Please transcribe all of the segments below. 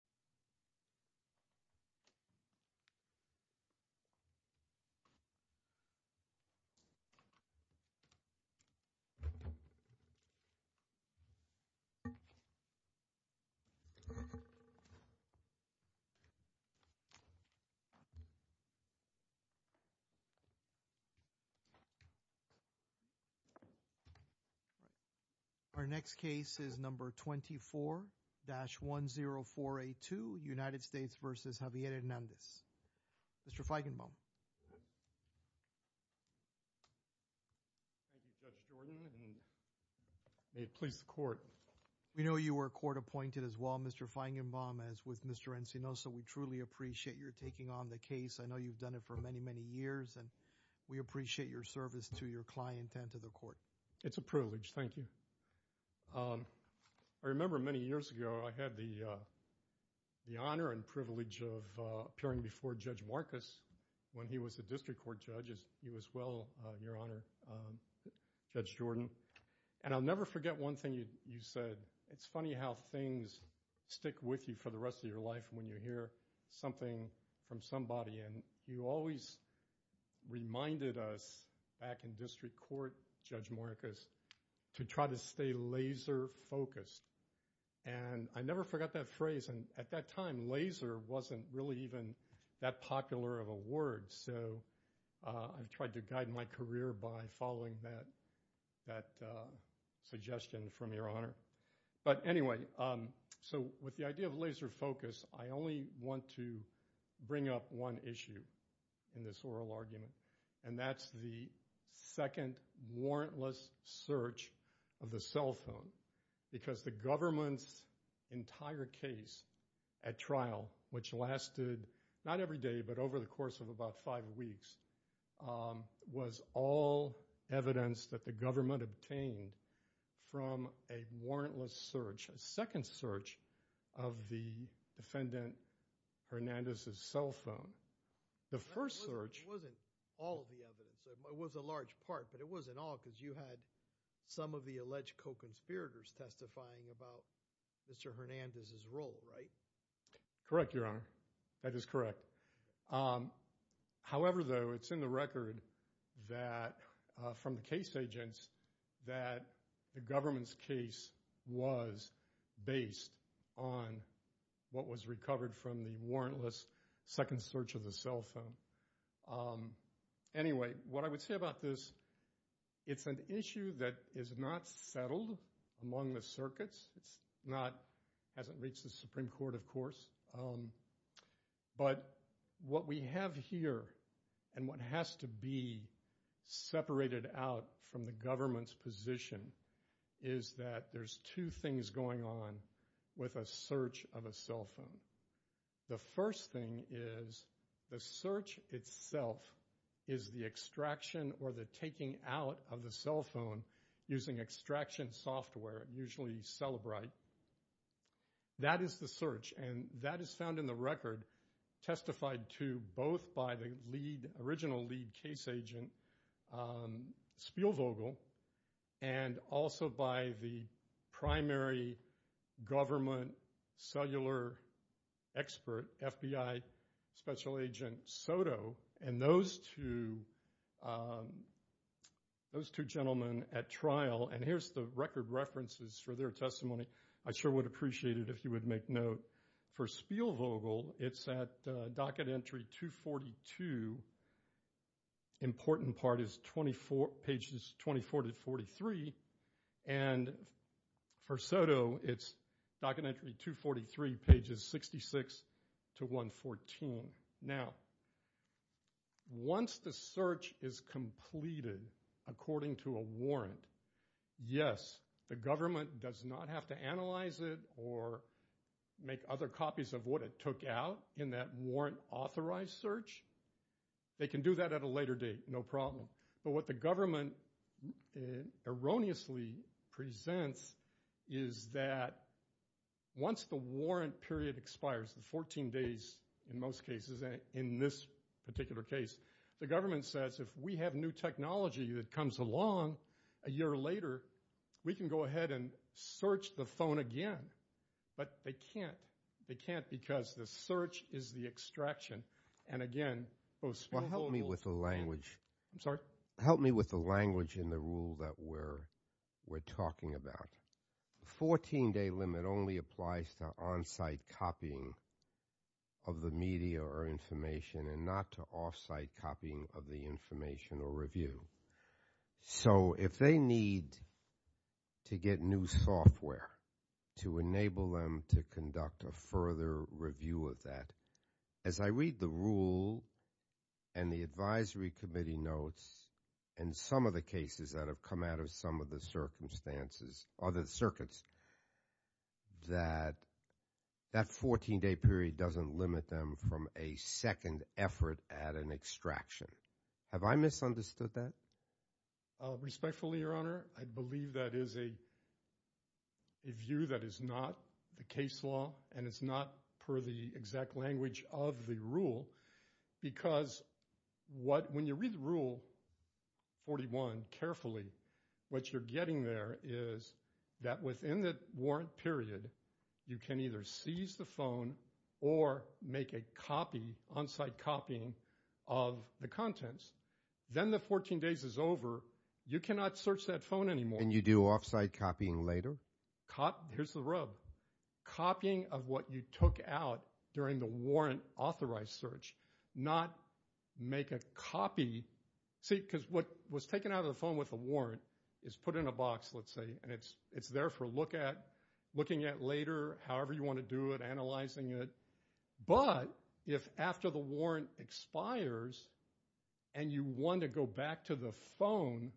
Mr. Feigenbaum. Thank you, Judge Jordan, and may it please the Court. We know you were court appointed as well, Mr. Feigenbaum, as with Mr. Encino. So, we truly appreciate your taking on the case. I know you've done it for many, many years, and we appreciate your service to your client and to the Court. It's a privilege, thank you. I remember many years ago, I had the honor and privilege of appearing before Judge Marcus when he was a district court judge, as he was well, Your Honor, Judge Jordan. And I'll never forget one thing you said. It's funny how things stick with you for the rest of your life when you hear something from somebody, and you always reminded us back in district court, Judge Marcus, to try to stay laser focused. And I never forgot that phrase, and at that time, laser wasn't really even that popular of a word. So, I've tried to guide my career by following that suggestion from Your Honor. But anyway, so with the idea of laser focus, I only want to bring up one issue in this trial argument, and that's the second warrantless search of the cell phone. Because the government's entire case at trial, which lasted not every day, but over the course of about five weeks, was all evidence that the government obtained from a warrantless search, a second search of the defendant Hernandez's cell phone. The first search... It wasn't all of the evidence, it was a large part, but it wasn't all because you had some of the alleged co-conspirators testifying about Mr. Hernandez's role, right? Correct, Your Honor, that is correct. However, though, it's in the record that from the case agents that the government's case was based on what was recovered from the warrantless second search of the cell phone. Anyway, what I would say about this, it's an issue that is not settled among the circuits. It's not... It hasn't reached the Supreme Court, of course. But what we have here, and what has to be separated out from the government's position is that there's two things going on with a search of a cell phone. The first thing is the search itself is the extraction or the taking out of the cell phone using extraction software, usually Cellebrite. That is the search, and that is found in the record testified to both by the original lead case agent, Spielvogel, and also by the primary government cellular expert, FBI Special Agent Soto. And those two gentlemen at trial, and here's the record references for their testimony. I sure would appreciate it if you would make note. For Spielvogel, it's at docket entry 242. Important part is pages 24 to 43. And for Soto, it's docket entry 243, pages 66 to 114. Now, once the search is completed according to a warrant, yes, the government does not have to analyze it or make other copies of what it took out in that warrant authorized search. They can do that at a later date, no problem. But what the government erroneously presents is that once the warrant period expires, the 14 days in most cases, in this particular case, the government says if we have new technology that comes along a year later, we can go ahead and search the phone again. But they can't. They can't because the search is the extraction. And again, both Spielvogel and Soto. Well, help me with the language. I'm sorry? Help me with the language in the rule that we're talking about. The 14-day limit only applies to on-site copying of the media or information and not to off-site copying of the information or review. So if they need to get new software to enable them to conduct a further review of that, as I read the rule and the advisory committee notes in some of the cases that have come out of some of the circumstances, other circuits, that that 14-day period doesn't limit them from a second effort at an extraction. Have I misunderstood that? Respectfully, Your Honor, I believe that is a view that is not the case law and it's not per the exact language of the rule because what, when you read the rule 41 carefully, what you're getting there is that within the warrant period, you can either seize the phone or make a copy, on-site copying, of the contents. Then the 14 days is over. You cannot search that phone anymore. And you do off-site copying later? Here's the rub. Copying of what you took out during the warrant authorized search, not make a copy, see, because what was taken out of the phone with a warrant is put in a box, let's say, and it's there for look at, looking at later, however you want to do it, analyzing it. But if after the warrant expires and you want to go back to the phone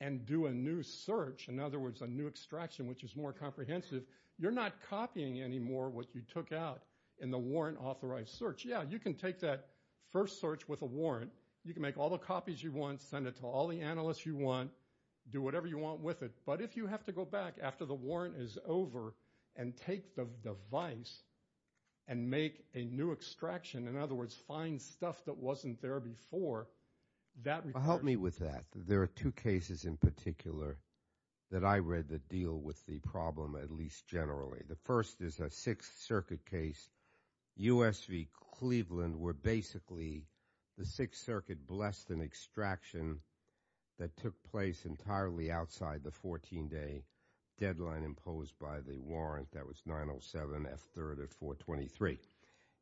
and do a new search, in other words, a new extraction, which is more comprehensive, you're not copying anymore what you took out in the warrant authorized search. Yeah, you can take that first search with a warrant. You can make all the copies you want, send it to all the analysts you want, do whatever you want with it. But if you have to go back after the warrant is over and take the device and make a new extraction, in other words, find stuff that wasn't there before, that requires... Help me with that. There are two cases in particular that I read that deal with the problem, at least generally. The first is a Sixth Circuit case, US v. Cleveland, where basically the Sixth Circuit blessed an extraction that took place entirely outside the 14-day deadline imposed by the warrant that was 907 F3rd of 423.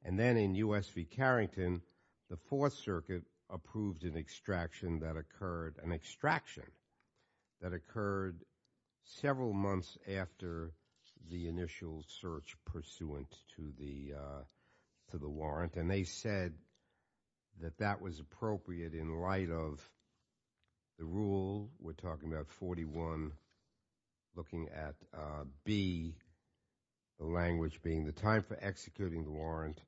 And then in US v. Carrington, the Fourth Circuit approved an extraction that occurred several months after the initial search pursuant to the warrant, and they said that that was appropriate in light of the rule, we're talking about 41, looking at B, the language being the time for executing the warrant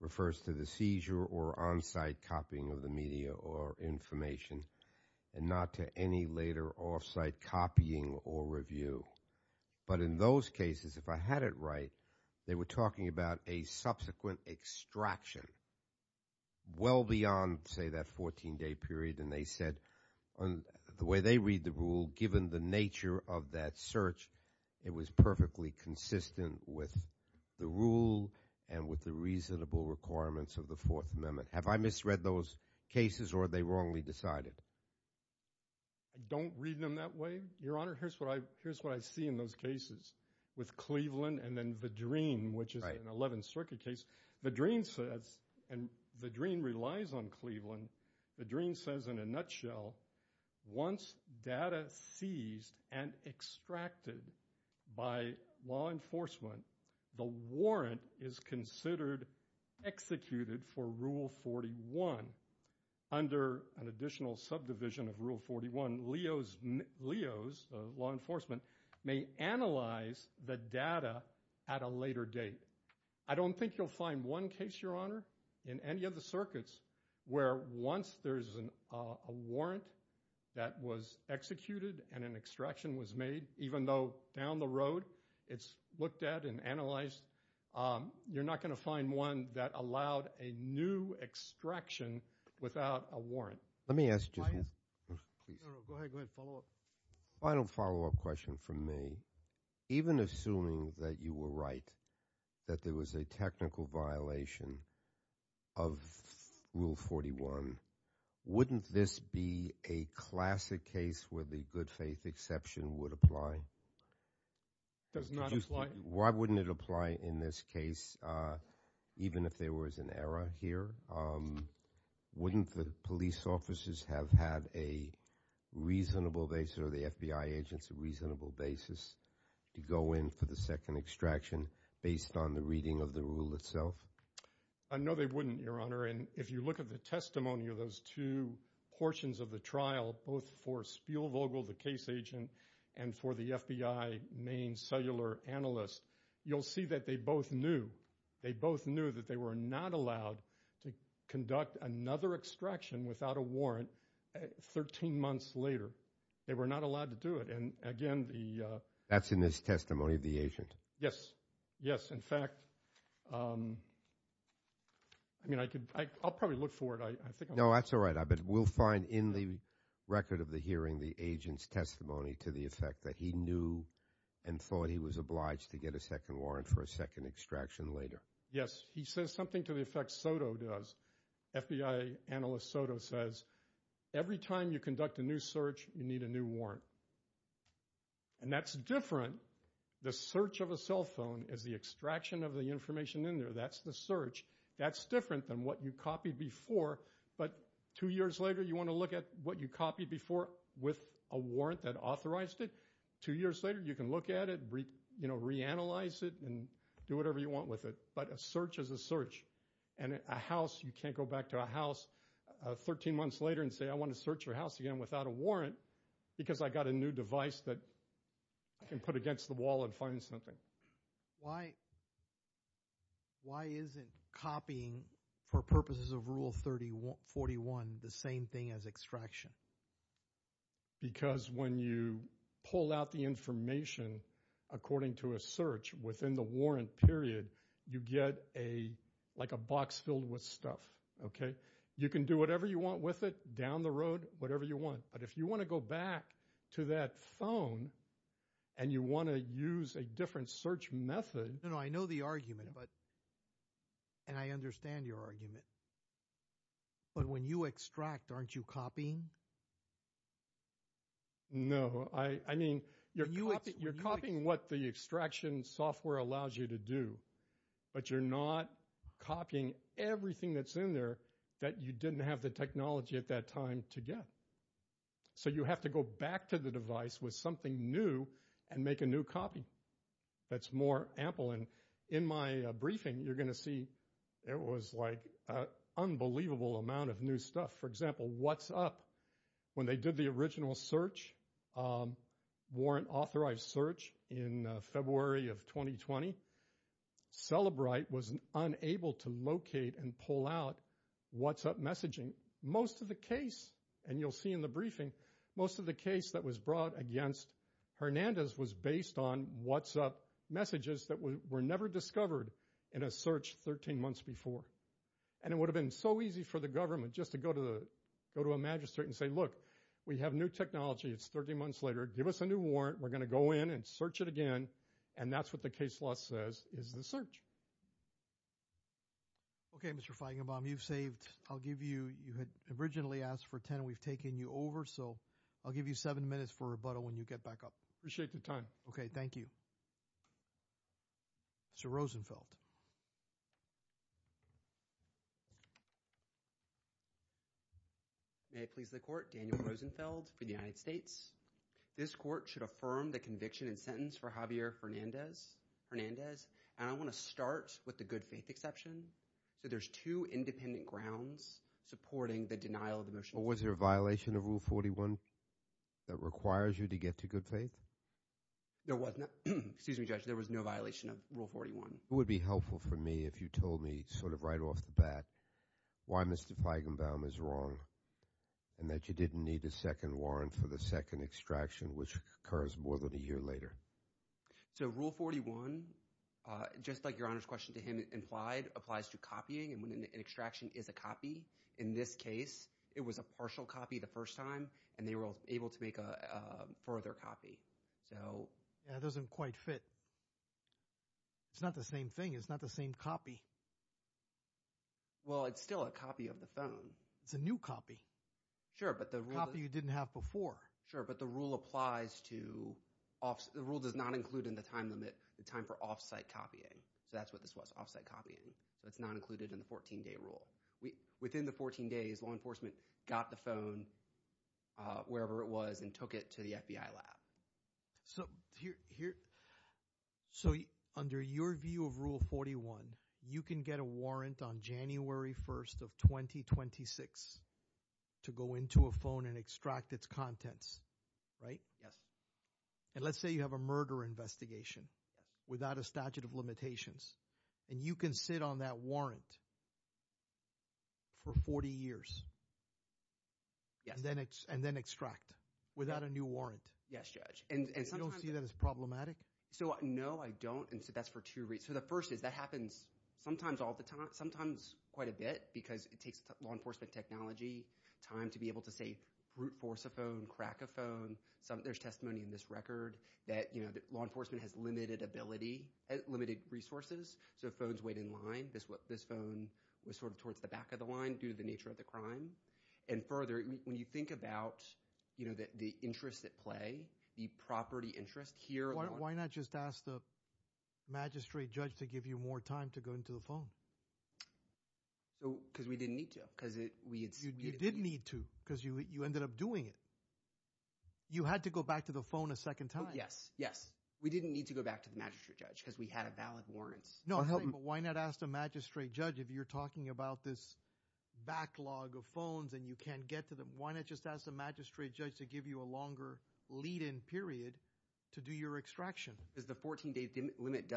refers to the seizure or on-site copying of the media or information and not to any later off-site copying or review. But in those cases, if I had it right, they were talking about a subsequent extraction well beyond, say, that 14-day period, and they said the way they read the rule, given the nature of that search, it was perfectly consistent with the rule and with the reasonable requirements of the Fourth Amendment. Have I misread those cases or are they wrongly decided? Don't read them that way, Your Honor. Here's what I see in those cases with Cleveland and then Vadreen, which is an Eleventh Circuit case. Vadreen says, and Vadreen relies on Cleveland, Vadreen says in a nutshell, once data seized and extracted by law enforcement, the warrant is considered executed for Rule 41. Under an additional subdivision of Rule 41, Leo's law enforcement may analyze the data at a later date. I don't think you'll find one case, Your Honor, in any of the circuits where once there's a warrant that was executed and an extraction was made, even though down the road it's looked at and analyzed, you're not going to find one that allowed a new extraction without a warrant. Let me ask just one. Go ahead. Go ahead. Follow up. Final follow up question from me. Even assuming that you were right, that there was a technical violation of Rule 41, wouldn't this be a classic case where the good faith exception would apply? Does not apply. Why wouldn't it apply in this case, even if there was an error here? Wouldn't the police officers have had a reasonable basis, or the FBI agents, a reasonable basis to go in for the second extraction based on the reading of the rule itself? No, they wouldn't, Your Honor. If you look at the testimony of those two portions of the trial, both for Spielvogel, the case agent, and for the FBI main cellular analyst, you'll see that they both knew. They both knew that they were not allowed to conduct another extraction without a warrant 13 months later. They were not allowed to do it. And again, the- That's in his testimony of the agent. Yes. Yes. In fact, I mean, I could, I'll probably look for it. I think I'm- No, that's all right. But we'll find in the record of the hearing the agent's testimony to the effect that he knew and thought he was obliged to get a second warrant for a second extraction later. Yes. He says something to the effect Soto does. FBI analyst Soto says, every time you conduct a new search, you need a new warrant. And that's different. The search of a cell phone is the extraction of the information in there. That's the search. That's different than what you copied before. But two years later, you want to look at what you copied before with a warrant that authorized it. Two years later, you can look at it, reanalyze it, and do whatever you want with it. But a search is a search. And a house, you can't go back to a house 13 months later and say, I want to search your house again without a warrant because I got a new device that I can put against the wall and find something. Why isn't copying, for purposes of Rule 31, the same thing as extraction? Because when you pull out the information according to a search within the warrant period, you get a, like a box filled with stuff, okay? You can do whatever you want with it, down the road, whatever you want. But if you want to go back to that phone and you want to use a different search method. No, no, I know the argument. And I understand your argument. But when you extract, aren't you copying? No, I mean, you're copying what the extraction software allows you to do. But you're not copying everything that's in there that you didn't have the technology at that time to get. So you have to go back to the device with something new and make a new copy. That's more ample. And in my briefing, you're going to see it was, like, an unbelievable amount of new stuff. For example, WhatsApp, when they did the original search, warrant-authorized search, in February of 2020, Celebrite was unable to locate and pull out WhatsApp messaging. Most of the case, and you'll see in the briefing, most of the case that was brought against Hernandez was based on WhatsApp messages that were never discovered in a search 13 months before. And it would have been so easy for the government just to go to a magistrate and say, Look, we have new technology. It's 13 months later. Give us a new warrant. We're going to go in and search it again. And that's what the case law says is the search. Okay, Mr. Feigenbaum, you've saved. I'll give you, you had originally asked for 10. We've taken you over. So I'll give you seven minutes for rebuttal when you get back up. Appreciate the time. Okay, thank you. Sir Rosenfeld. May it please the court, Daniel Rosenfeld for the United States. This court should affirm the conviction and sentence for Javier Hernandez. And I want to start with the good faith exception. So there's two independent grounds supporting the denial of the motion. Was there a violation of Rule 41 that requires you to get to good faith? There was not. Excuse me, Judge. There was no violation of Rule 41. It would be helpful for me if you told me sort of right off the bat why Mr. Feigenbaum is wrong and that you didn't need a second warrant for the second extraction, which occurs more than a year later. So Rule 41, just like Your Honor's question to him implied, applies to copying. And when an extraction is a copy, in this case, it was a partial copy the first time, and they were able to make a further copy. That doesn't quite fit. It's not the same thing. It's not the same copy. Well, it's still a copy of the phone. It's a new copy. Sure, but the rule – A copy you didn't have before. Sure, but the rule applies to – the rule does not include in the time limit the time for off-site copying. So that's what this was, off-site copying. That's not included in the 14-day rule. Within the 14 days, law enforcement got the phone, wherever it was, and took it to the FBI lab. So under your view of Rule 41, you can get a warrant on January 1st of 2026 to go into a phone and extract its contents, right? Yes. And let's say you have a murder investigation without a statute of limitations, and you can sit on that warrant for 40 years and then extract without a new warrant. Yes, Judge. And you don't see that as problematic? So no, I don't, and so that's for two reasons. So the first is that happens sometimes all the time, sometimes quite a bit because it takes law enforcement technology, time to be able to, say, brute force a phone, crack a phone. There's testimony in this record that law enforcement has limited ability, limited resources, so phones wait in line. This phone was sort of towards the back of the line due to the nature of the crime. And further, when you think about the interest at play, the property interest here— Why not just ask the magistrate judge to give you more time to go into the phone? Because we didn't need to. You did need to because you ended up doing it. You had to go back to the phone a second time? Yes, yes. We didn't need to go back to the magistrate judge because we had a valid warrant. No, but why not ask the magistrate judge if you're talking about this backlog of phones and you can't get to them? Why not just ask the magistrate judge to give you a longer lead-in period to do your extraction? Because the 14-day limit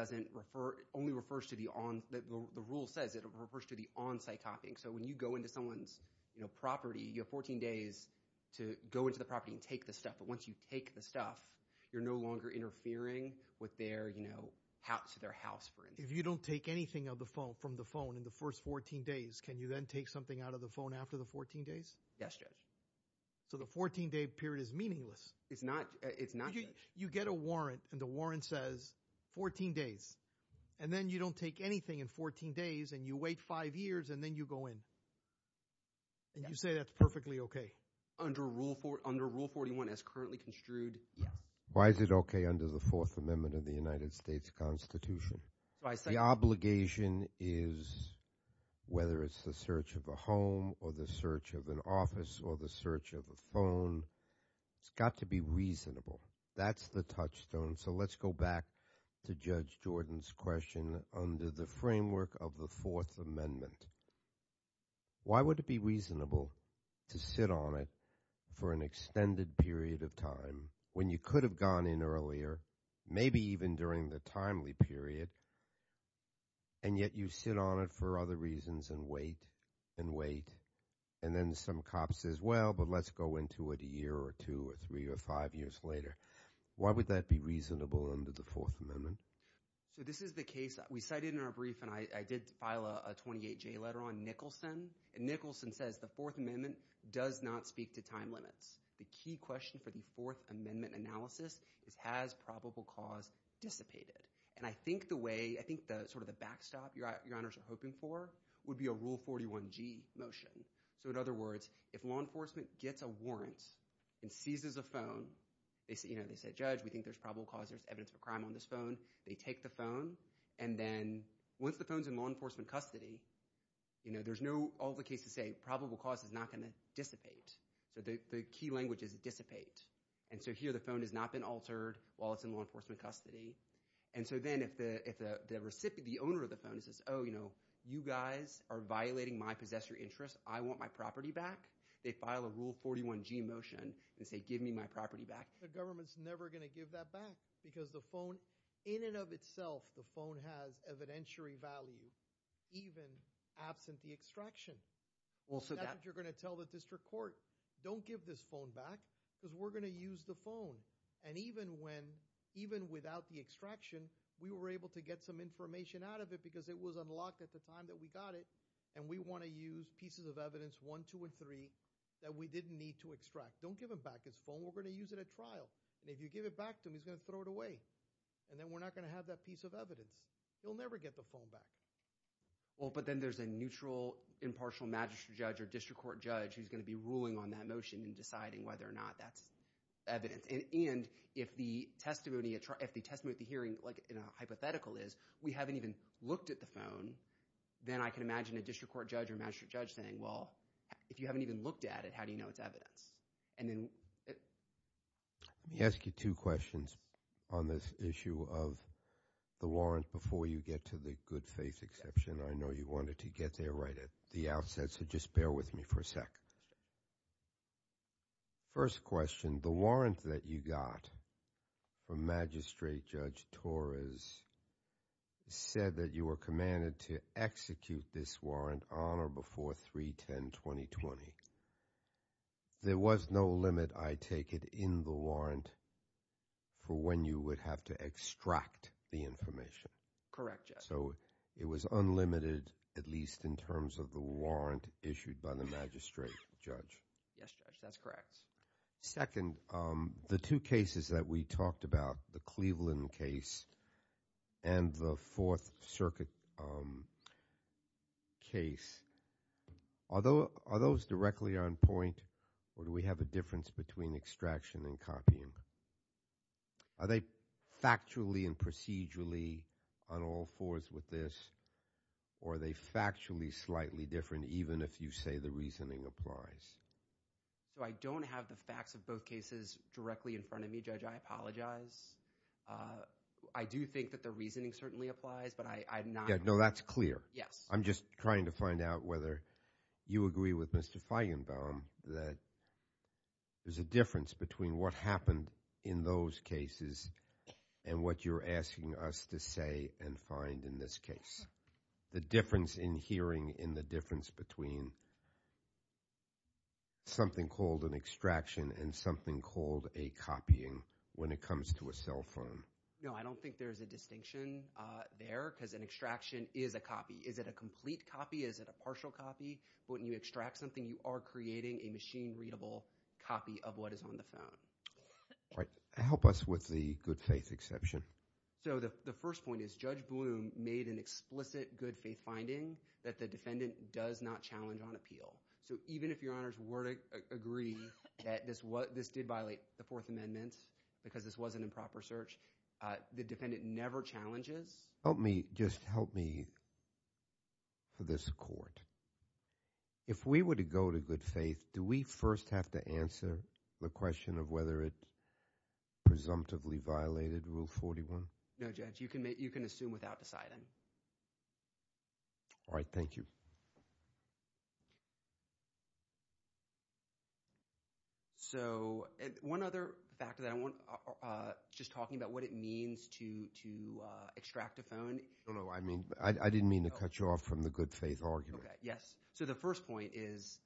only refers to the on—the rule says it refers to the on-site copying. So when you go into someone's property, you have 14 days to go into the property and take the stuff. But once you take the stuff, you're no longer interfering with their—to their house for instance. If you don't take anything from the phone in the first 14 days, can you then take something out of the phone after the 14 days? Yes, Judge. So the 14-day period is meaningless. It's not, Judge. You get a warrant, and the warrant says 14 days, and then you don't take anything in 14 days, and you wait five years, and then you go in. And you say that's perfectly OK. Under Rule 41 as currently construed, yes. Why is it OK under the Fourth Amendment of the United States Constitution? The obligation is, whether it's the search of a home or the search of an office or the search of a phone, it's got to be reasonable. That's the touchstone. So let's go back to Judge Jordan's question under the framework of the Fourth Amendment. Why would it be reasonable to sit on it for an extended period of time when you could have gone in earlier, maybe even during the timely period, and yet you sit on it for other reasons and wait and wait, and then some cop says, well, but let's go into it a year or two or three or five years later. Why would that be reasonable under the Fourth Amendment? So this is the case that we cited in our brief, and I did file a 28-J letter on Nicholson. And Nicholson says the Fourth Amendment does not speak to time limits. The key question for the Fourth Amendment analysis is has probable cause dissipated? And I think the way – I think sort of the backstop your honors are hoping for would be a Rule 41G motion. So in other words, if law enforcement gets a warrant and seizes a phone, they say, judge, we think there's probable cause. There's evidence of a crime on this phone. They take the phone, and then once the phone's in law enforcement custody, there's no – all the cases say probable cause is not going to dissipate. So the key language is dissipate. And so here the phone has not been altered while it's in law enforcement custody. And so then if the owner of the phone says, oh, you guys are violating my possessor interest. I want my property back. They file a Rule 41G motion and say, give me my property back. The government's never going to give that back because the phone – in and of itself, the phone has evidentiary value even absent the extraction. That's what you're going to tell the district court. Don't give this phone back because we're going to use the phone. And even when – even without the extraction, we were able to get some information out of it because it was unlocked at the time that we got it. And we want to use pieces of evidence one, two, and three that we didn't need to extract. Don't give him back his phone. We're going to use it at trial. And if you give it back to him, he's going to throw it away. And then we're not going to have that piece of evidence. He'll never get the phone back. Well, but then there's a neutral, impartial magistrate judge or district court judge who's going to be ruling on that motion and deciding whether or not that's evidence. And if the testimony – if the testimony at the hearing, like in a hypothetical, is we haven't even looked at the phone, then I can imagine a district court judge or magistrate judge saying, well, if you haven't even looked at it, how do you know it's evidence? Let me ask you two questions on this issue of the warrant before you get to the good faith exception. I know you wanted to get there right at the outset, so just bear with me for a sec. First question, the warrant that you got from Magistrate Judge Torres said that you were commanded to execute this warrant on or before 3-10-2020. There was no limit, I take it, in the warrant for when you would have to extract the information. Correct, Judge. So it was unlimited at least in terms of the warrant issued by the magistrate judge. Yes, Judge. That's correct. Second, the two cases that we talked about, the Cleveland case and the Fourth Circuit case, are those directly on point or do we have a difference between extraction and copying? Are they factually and procedurally on all fours with this or are they factually slightly different even if you say the reasoning applies? So I don't have the facts of both cases directly in front of me, Judge. I apologize. I do think that the reasoning certainly applies, but I'm not – No, that's clear. Yes. I'm just trying to find out whether you agree with Mr. Feigenbaum that there's a difference between what happened in those cases and what you're asking us to say and find in this case. The difference in hearing and the difference between something called an extraction and something called a copying when it comes to a cell phone. No, I don't think there's a distinction there because an extraction is a copy. Is it a complete copy? Is it a partial copy? When you extract something, you are creating a machine-readable copy of what is on the phone. All right. Help us with the good faith exception. So the first point is Judge Bloom made an explicit good faith finding that the defendant does not challenge on appeal. So even if Your Honors were to agree that this did violate the Fourth Amendment because this was an improper search, the defendant never challenges. Help me – just help me for this court. If we were to go to good faith, do we first have to answer the question of whether it presumptively violated Rule 41? No, Judge. You can assume without deciding. All right. Thank you. So one other fact that I want – just talking about what it means to extract a phone. I didn't mean to cut you off from the good faith argument. Okay, yes. So the first point is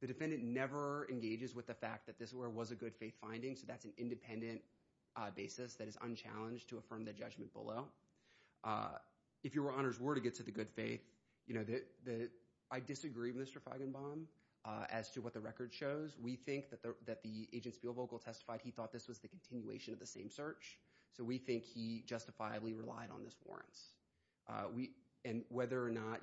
the defendant never engages with the fact that this was a good faith finding, so that's an independent basis that is unchallenged to affirm the judgment below. If Your Honors were to get to the good faith, I disagree with Mr. Feigenbaum as to what the record shows. We think that the agent's field vocal testified he thought this was the continuation of the same search, so we think he justifiably relied on this warrants. And whether or not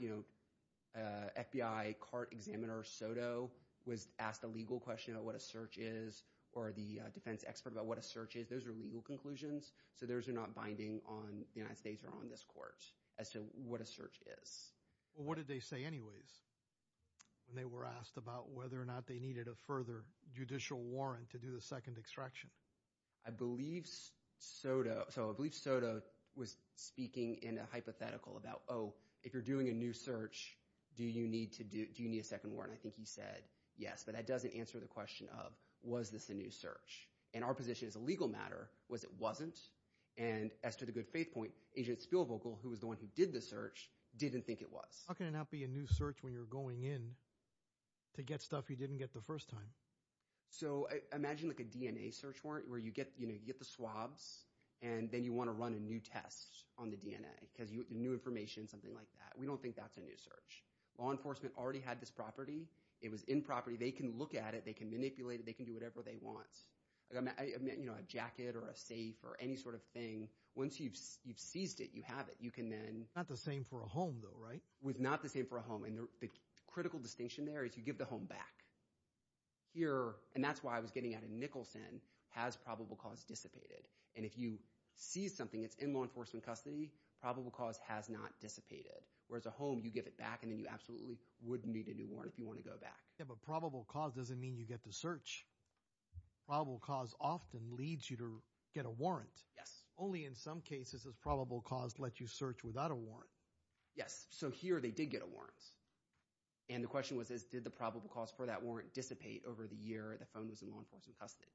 FBI CART examiner Soto was asked a legal question about what a search is or the defense expert about what a search is, those are legal conclusions, so those are not binding on the United States or on this court as to what a search is. What did they say anyways when they were asked about whether or not they needed a further judicial warrant to do the second extraction? I believe Soto – so I believe Soto was speaking in a hypothetical about, oh, if you're doing a new search, do you need a second warrant? I think he said yes, but that doesn't answer the question of was this a new search. And our position as a legal matter was it wasn't, and as to the good faith point, agent's field vocal, who was the one who did the search, didn't think it was. How can it not be a new search when you're going in to get stuff you didn't get the first time? So imagine a DNA search warrant where you get the swabs, and then you want to run a new test on the DNA because new information, something like that. We don't think that's a new search. Law enforcement already had this property. It was in property. They can look at it. They can manipulate it. They can do whatever they want, a jacket or a safe or any sort of thing. Once you've seized it, you have it. You can then – Not the same for a home though, right? Not the same for a home, and the critical distinction there is you give the home back. Here, and that's why I was getting out of Nicholson, has probable cause dissipated. And if you seize something that's in law enforcement custody, probable cause has not dissipated. Whereas a home, you give it back, and then you absolutely would need a new warrant if you want to go back. Yeah, but probable cause doesn't mean you get to search. Probable cause often leads you to get a warrant. Only in some cases does probable cause let you search without a warrant. Yes, so here they did get a warrant. And the question was, did the probable cause for that warrant dissipate over the year the phone was in law enforcement custody?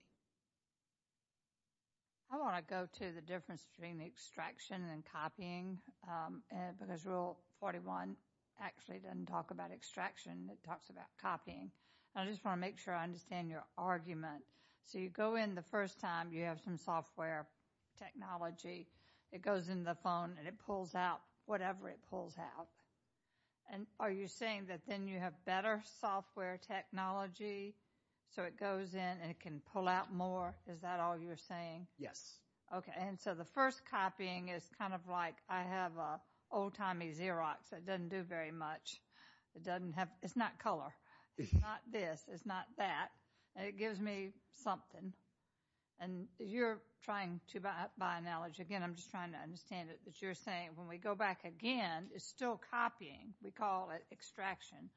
I want to go to the difference between the extraction and copying because Rule 41 actually doesn't talk about extraction. It talks about copying. I just want to make sure I understand your argument. So you go in the first time. You have some software technology. It goes in the phone, and it pulls out whatever it pulls out. And are you saying that then you have better software technology so it goes in and it can pull out more? Is that all you're saying? Yes. Okay, and so the first copying is kind of like I have an old-timey Xerox that doesn't do very much. It's not color. It's not this. It's not that. And it gives me something. And you're trying to buy knowledge. Again, I'm just trying to understand it. But you're saying when we go back again, it's still copying. We call it extraction.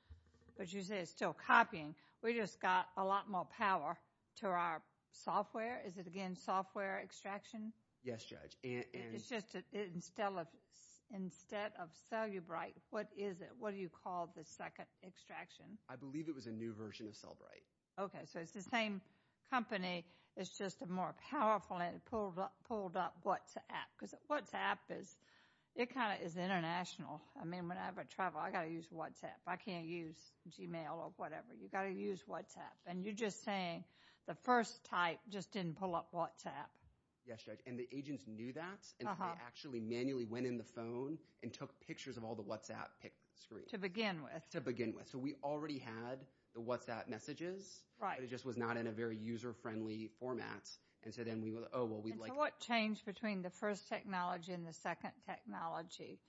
But you say it's still copying. We just got a lot more power to our software. Is it, again, software extraction? Yes, Judge. It's just instead of Cellebrite, what is it? What do you call the second extraction? I believe it was a new version of Cellebrite. Okay, so it's the same company. It's just more powerful and it pulled up WhatsApp. Because WhatsApp, it kind of is international. I mean, whenever I travel, I've got to use WhatsApp. I can't use Gmail or whatever. You've got to use WhatsApp. And you're just saying the first type just didn't pull up WhatsApp. Yes, Judge, and the agents knew that. And they actually manually went in the phone and took pictures of all the WhatsApp screens. To begin with. To begin with. And so we already had the WhatsApp messages. Right. But it just was not in a very user-friendly format. And so then we would, oh, well, we'd like to. And so what changed between the first technology and the second technology?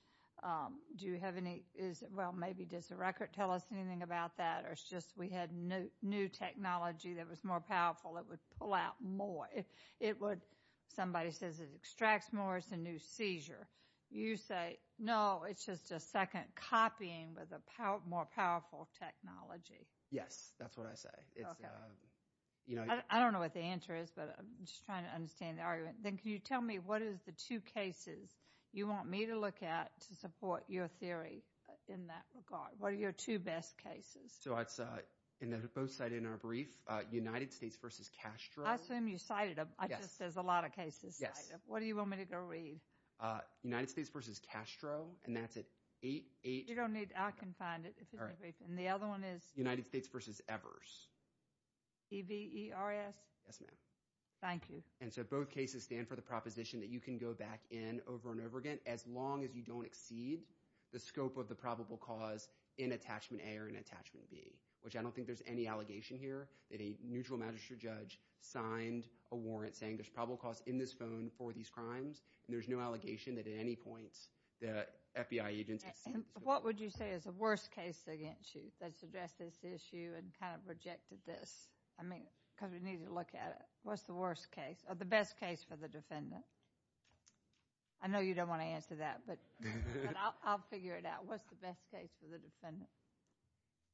Do you have any – well, maybe does the record tell us anything about that? Or it's just we had new technology that was more powerful that would pull out more? Somebody says it extracts more. It's a new seizure. You say, no, it's just a second copying with a more powerful technology. Yes, that's what I say. I don't know what the answer is, but I'm just trying to understand the argument. Then can you tell me what is the two cases you want me to look at to support your theory in that regard? What are your two best cases? So it's both cited in our brief, United States versus Castro. I assume you cited them. Yes. There's a lot of cases cited. Yes. What do you want me to go read? United States versus Castro, and that's at 880. You don't need – I can find it. And the other one is? United States versus Evers. E-V-E-R-S? Yes, ma'am. Thank you. And so both cases stand for the proposition that you can go back in over and over again as long as you don't exceed the scope of the probable cause in Attachment A or in Attachment B, which I don't think there's any allegation here that a neutral magistrate judge signed a warrant saying there's probable cause in this phone for these crimes, and there's no allegation that at any point the FBI agents exceed the scope. What would you say is the worst case against you that's addressed this issue and kind of rejected this? I mean, because we need to look at it. What's the worst case or the best case for the defendant? I know you don't want to answer that, but I'll figure it out. What's the best case for the defendant?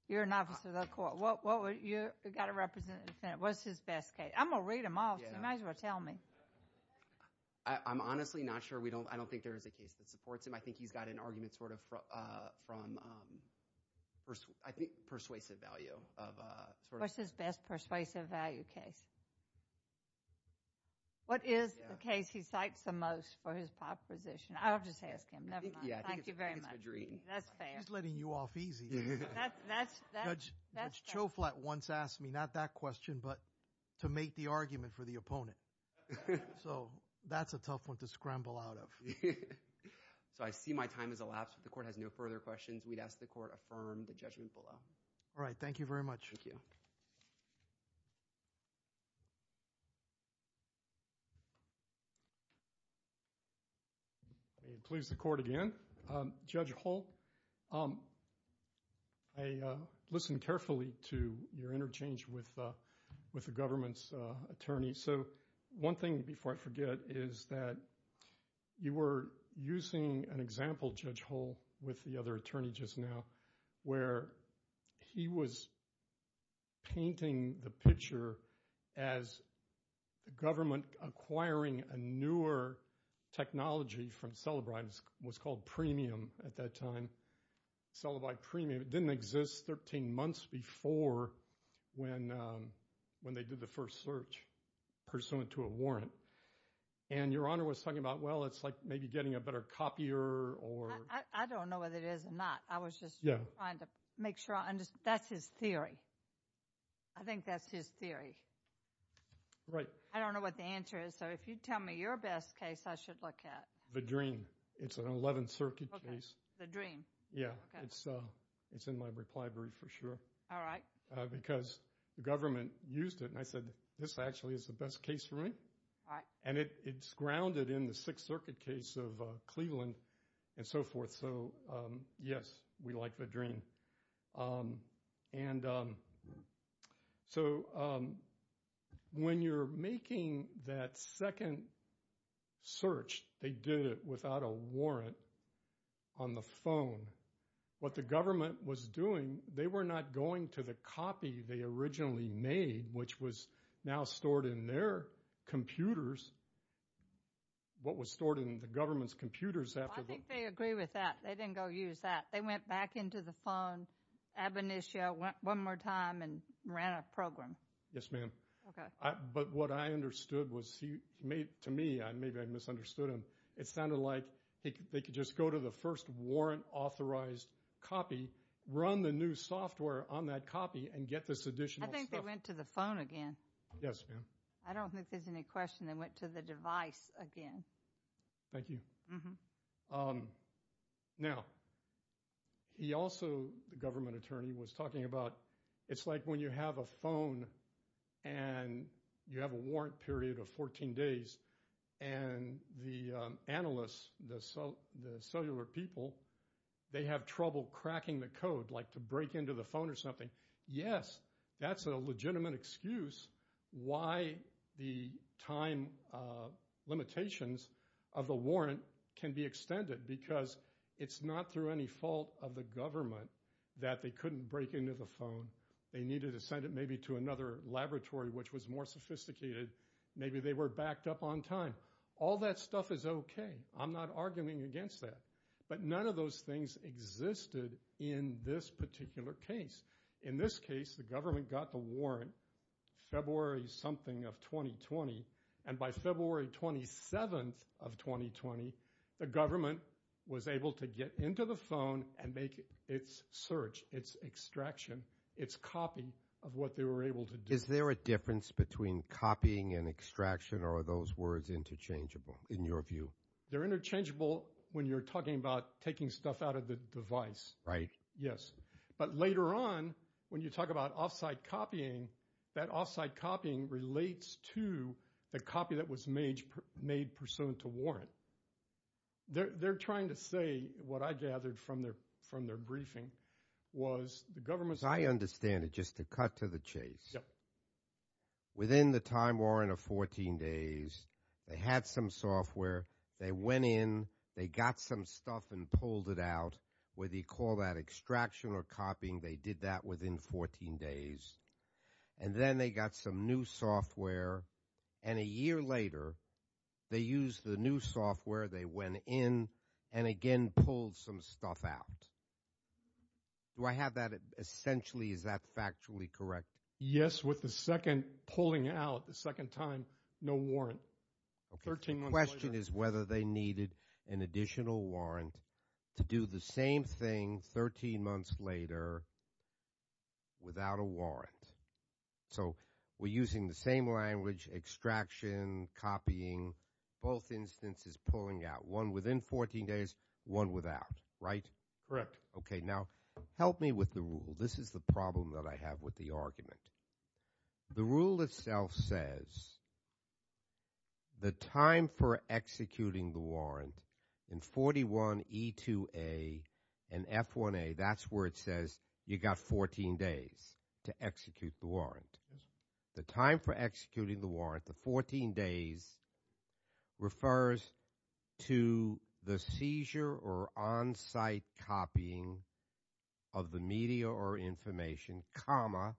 You're an officer of the court. You've got to represent the defendant. What's his best case? I'm going to read them all, so you might as well tell me. I'm honestly not sure. I don't think there is a case that supports him. I think he's got an argument sort of from, I think, persuasive value. What's his best persuasive value case? What is the case he cites the most for his proposition? I'll just ask him. Never mind. Thank you very much. That's fair. She's letting you off easy. Judge Choflat once asked me not that question, but to make the argument for the opponent. So that's a tough one to scramble out of. So I see my time has elapsed. The court has no further questions. We'd ask the court affirm the judgment below. All right. Thank you very much. Thank you. May it please the court again. Judge Hull, I listened carefully to your interchange with the government's attorney. So one thing before I forget is that you were using an example, Judge Hull, with the other attorney just now, where he was painting the picture as the government acquiring a newer technology from Cellebrite. It was called Premium at that time. Cellebrite Premium. It didn't exist 13 months before when they did the first search, pursuant to a warrant. And Your Honor was talking about, well, it's like maybe getting a better copier or… I don't know whether it is or not. I was just trying to make sure I understood. That's his theory. I think that's his theory. Right. I don't know what the answer is. So if you tell me your best case I should look at. It's an 11th Circuit case. Vadreen. Yeah. It's in my reply brief for sure. All right. Because the government used it, and I said, this actually is the best case for me. All right. And it's grounded in the Sixth Circuit case of Cleveland and so forth. So, yes, we like Vadreen. And so when you're making that second search, they did it without a warrant on the phone. What the government was doing, they were not going to the copy they originally made, which was now stored in their computers, what was stored in the government's computers. I think they agree with that. They didn't go use that. They went back into the phone, ab initio, one more time, and ran a program. Yes, ma'am. Okay. But what I understood was to me, maybe I misunderstood him, it sounded like they could just go to the first warrant authorized copy, run the new software on that copy, and get this additional stuff. I think they went to the phone again. Yes, ma'am. I don't think there's any question they went to the device again. Thank you. Mm-hmm. Now, he also, the government attorney, was talking about, it's like when you have a phone, and you have a warrant period of 14 days, and the analysts, the cellular people, they have trouble cracking the code, like to break into the phone or something. Yes, that's a legitimate excuse why the time limitations of the warrant can be extended, because it's not through any fault of the government that they couldn't break into the phone. They needed to send it maybe to another laboratory, which was more sophisticated. Maybe they were backed up on time. All that stuff is okay. I'm not arguing against that. But none of those things existed in this particular case. In this case, the government got the warrant February something of 2020, and by February 27th of 2020, the government was able to get into the phone and make its search, its extraction, its copy of what they were able to do. Is there a difference between copying and extraction, or are those words interchangeable in your view? They're interchangeable when you're talking about taking stuff out of the device. Right. Yes. But later on, when you talk about off-site copying, that off-site copying relates to the copy that was made pursuant to warrant. They're trying to say what I gathered from their briefing was the government's – I understand it, just to cut to the chase. Yes. Within the time warrant of 14 days, they had some software. They went in. They got some stuff and pulled it out. Whether you call that extraction or copying, they did that within 14 days. And then they got some new software, and a year later they used the new software. They went in and, again, pulled some stuff out. Do I have that essentially? Is that factually correct? Yes. With the second pulling out, the second time, no warrant. Okay. The question is whether they needed an additional warrant to do the same thing 13 months later without a warrant. So we're using the same language, extraction, copying, both instances pulling out, one within 14 days, one without, right? Correct. Okay. Now, help me with the rule. This is the problem that I have with the argument. The rule itself says the time for executing the warrant in 41E2A and F1A, that's where it says you got 14 days to execute the warrant. The time for executing the warrant, the 14 days, refers to the seizure or on-site copying of the media or information, comma,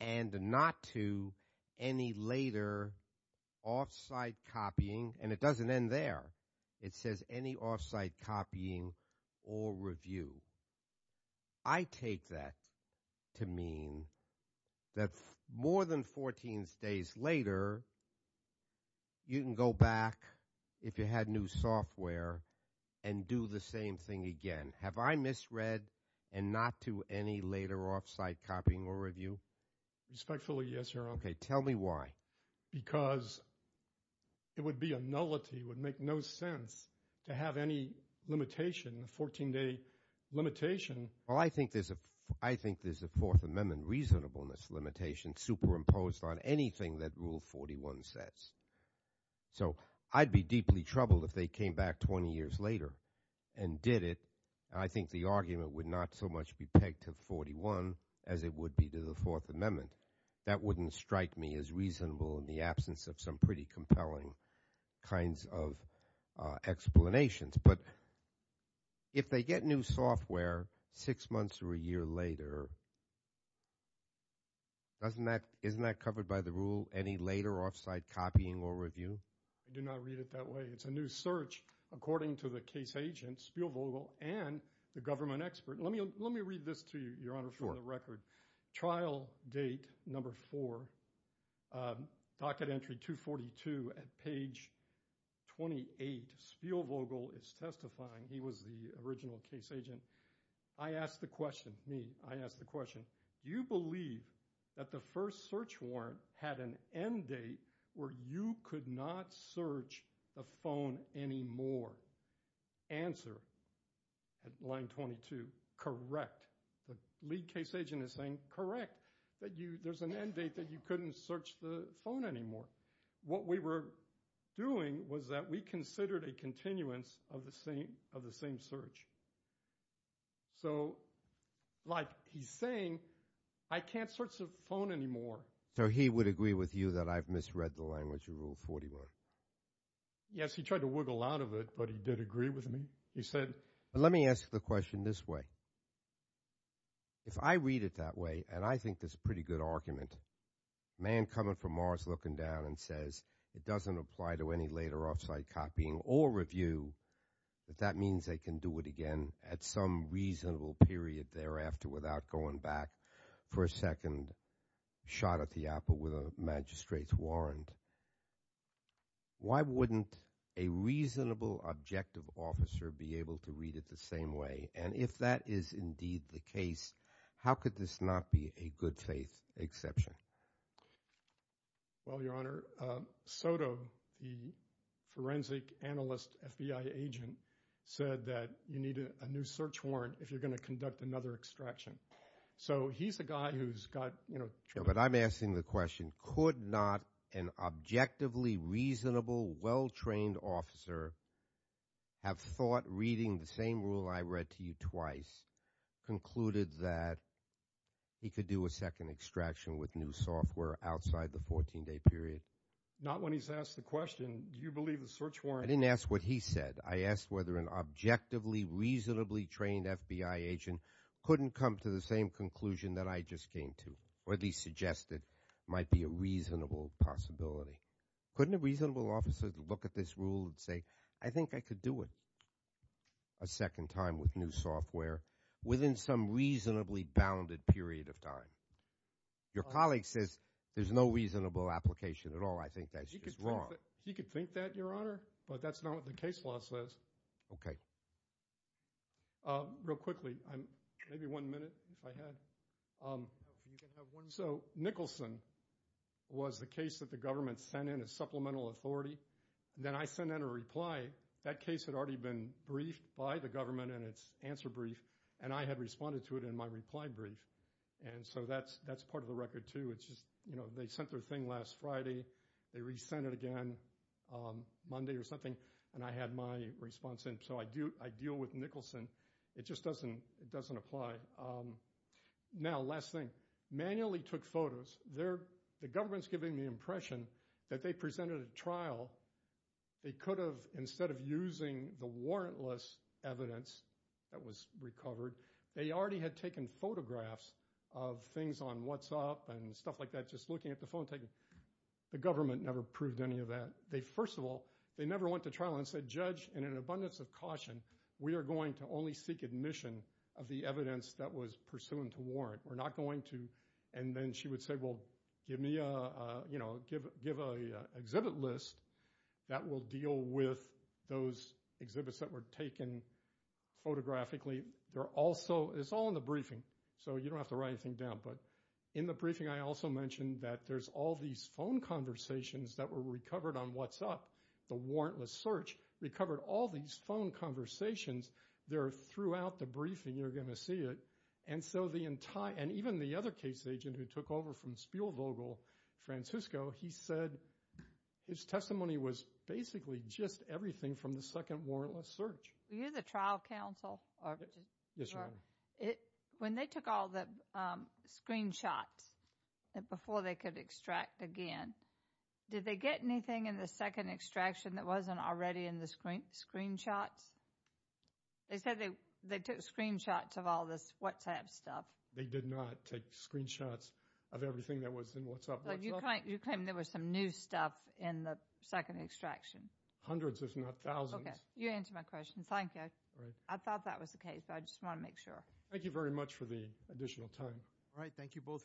and not to any later off-site copying. And it doesn't end there. It says any off-site copying or review. I take that to mean that more than 14 days later you can go back, if you had new software, and do the same thing again. Have I misread and not to any later off-site copying or review? Respectfully, yes, Your Honor. Okay. Tell me why. Because it would be a nullity. It would make no sense to have any limitation, a 14-day limitation. Well, I think there's a Fourth Amendment reasonableness limitation superimposed on anything that Rule 41 says. So I'd be deeply troubled if they came back 20 years later and did it. I think the argument would not so much be pegged to 41 as it would be to the Fourth Amendment. That wouldn't strike me as reasonable in the absence of some pretty compelling kinds of explanations. But if they get new software six months or a year later, isn't that covered by the rule, any later off-site copying or review? I do not read it that way. It's a new search, according to the case agent, Spielvogel, and the government expert. Let me read this to you, Your Honor, for the record. Trial date number four, docket entry 242 at page 28. Spielvogel is testifying. He was the original case agent. I asked the question, me, I asked the question, do you believe that the first search warrant had an end date where you could not search the phone anymore? Answer, at line 22, correct. The lead case agent is saying, correct. There's an end date that you couldn't search the phone anymore. What we were doing was that we considered a continuance of the same search. So like he's saying, I can't search the phone anymore. So he would agree with you that I've misread the language of Rule 41? Yes, he tried to wiggle out of it, but he did agree with me. Let me ask the question this way. If I read it that way, and I think that's a pretty good argument, a man coming from Mars looking down and says it doesn't apply to any later off-site copying or review, that that means they can do it again at some reasonable period thereafter without going back for a second shot at the apple with a magistrate's warrant, why wouldn't a reasonable objective officer be able to read it the same way? And if that is indeed the case, how could this not be a good faith exception? Well, Your Honor, Soto, the forensic analyst FBI agent, said that you need a new search warrant if you're going to conduct another extraction. So he's a guy who's got, you know, But I'm asking the question, could not an objectively reasonable, well-trained officer have thought reading the same rule I read to you twice, concluded that he could do a second extraction with new software outside the 14-day period? Not when he's asked the question. Do you believe the search warrant? I didn't ask what he said. I asked whether an objectively, reasonably trained FBI agent couldn't come to the same conclusion that I just came to, or at least suggested might be a reasonable possibility. Couldn't a reasonable officer look at this rule and say, I think I could do it a second time with new software within some reasonably bounded period of time? Your colleague says there's no reasonable application at all. I think that's just wrong. He could think that, Your Honor, but that's not what the case law says. Okay. Real quickly, maybe one minute if I had. So Nicholson was the case that the government sent in as supplemental authority. Then I sent in a reply. That case had already been briefed by the government in its answer brief, and I had responded to it in my reply brief. And so that's part of the record, too. It's just, you know, they sent their thing last Friday. They re-sent it again Monday or something, and I had my response in. So I deal with Nicholson. It just doesn't apply. Now, last thing. Manually took photos. The government's giving the impression that they presented a trial. They could have, instead of using the warrantless evidence that was recovered, they already had taken photographs of things on WhatsApp and stuff like that, just looking at the phone. The government never proved any of that. First of all, they never went to trial and said, Judge, in an abundance of caution, we are going to only seek admission of the evidence that was pursuant to warrant. We're not going to, and then she would say, well, give me an exhibit list that will deal with those exhibits that were taken photographically. It's all in the briefing, so you don't have to write anything down. But in the briefing I also mentioned that there's all these phone conversations that were recovered on WhatsApp, the warrantless search, recovered all these phone conversations. They're throughout the briefing. You're going to see it. And even the other case agent who took over from Spielvogel, Francisco, he said his testimony was basically just everything from the second warrantless search. Were you the trial counsel? Yes, Your Honor. When they took all the screenshots before they could extract again, did they get anything in the second extraction that wasn't already in the screenshots? They said they took screenshots of all this WhatsApp stuff. They did not take screenshots of everything that was in WhatsApp. You claim there was some new stuff in the second extraction. Hundreds, if not thousands. Okay, you answered my question. Thank you. I thought that was the case, but I just want to make sure. Thank you very much for the additional time. All right. Thank you both very much.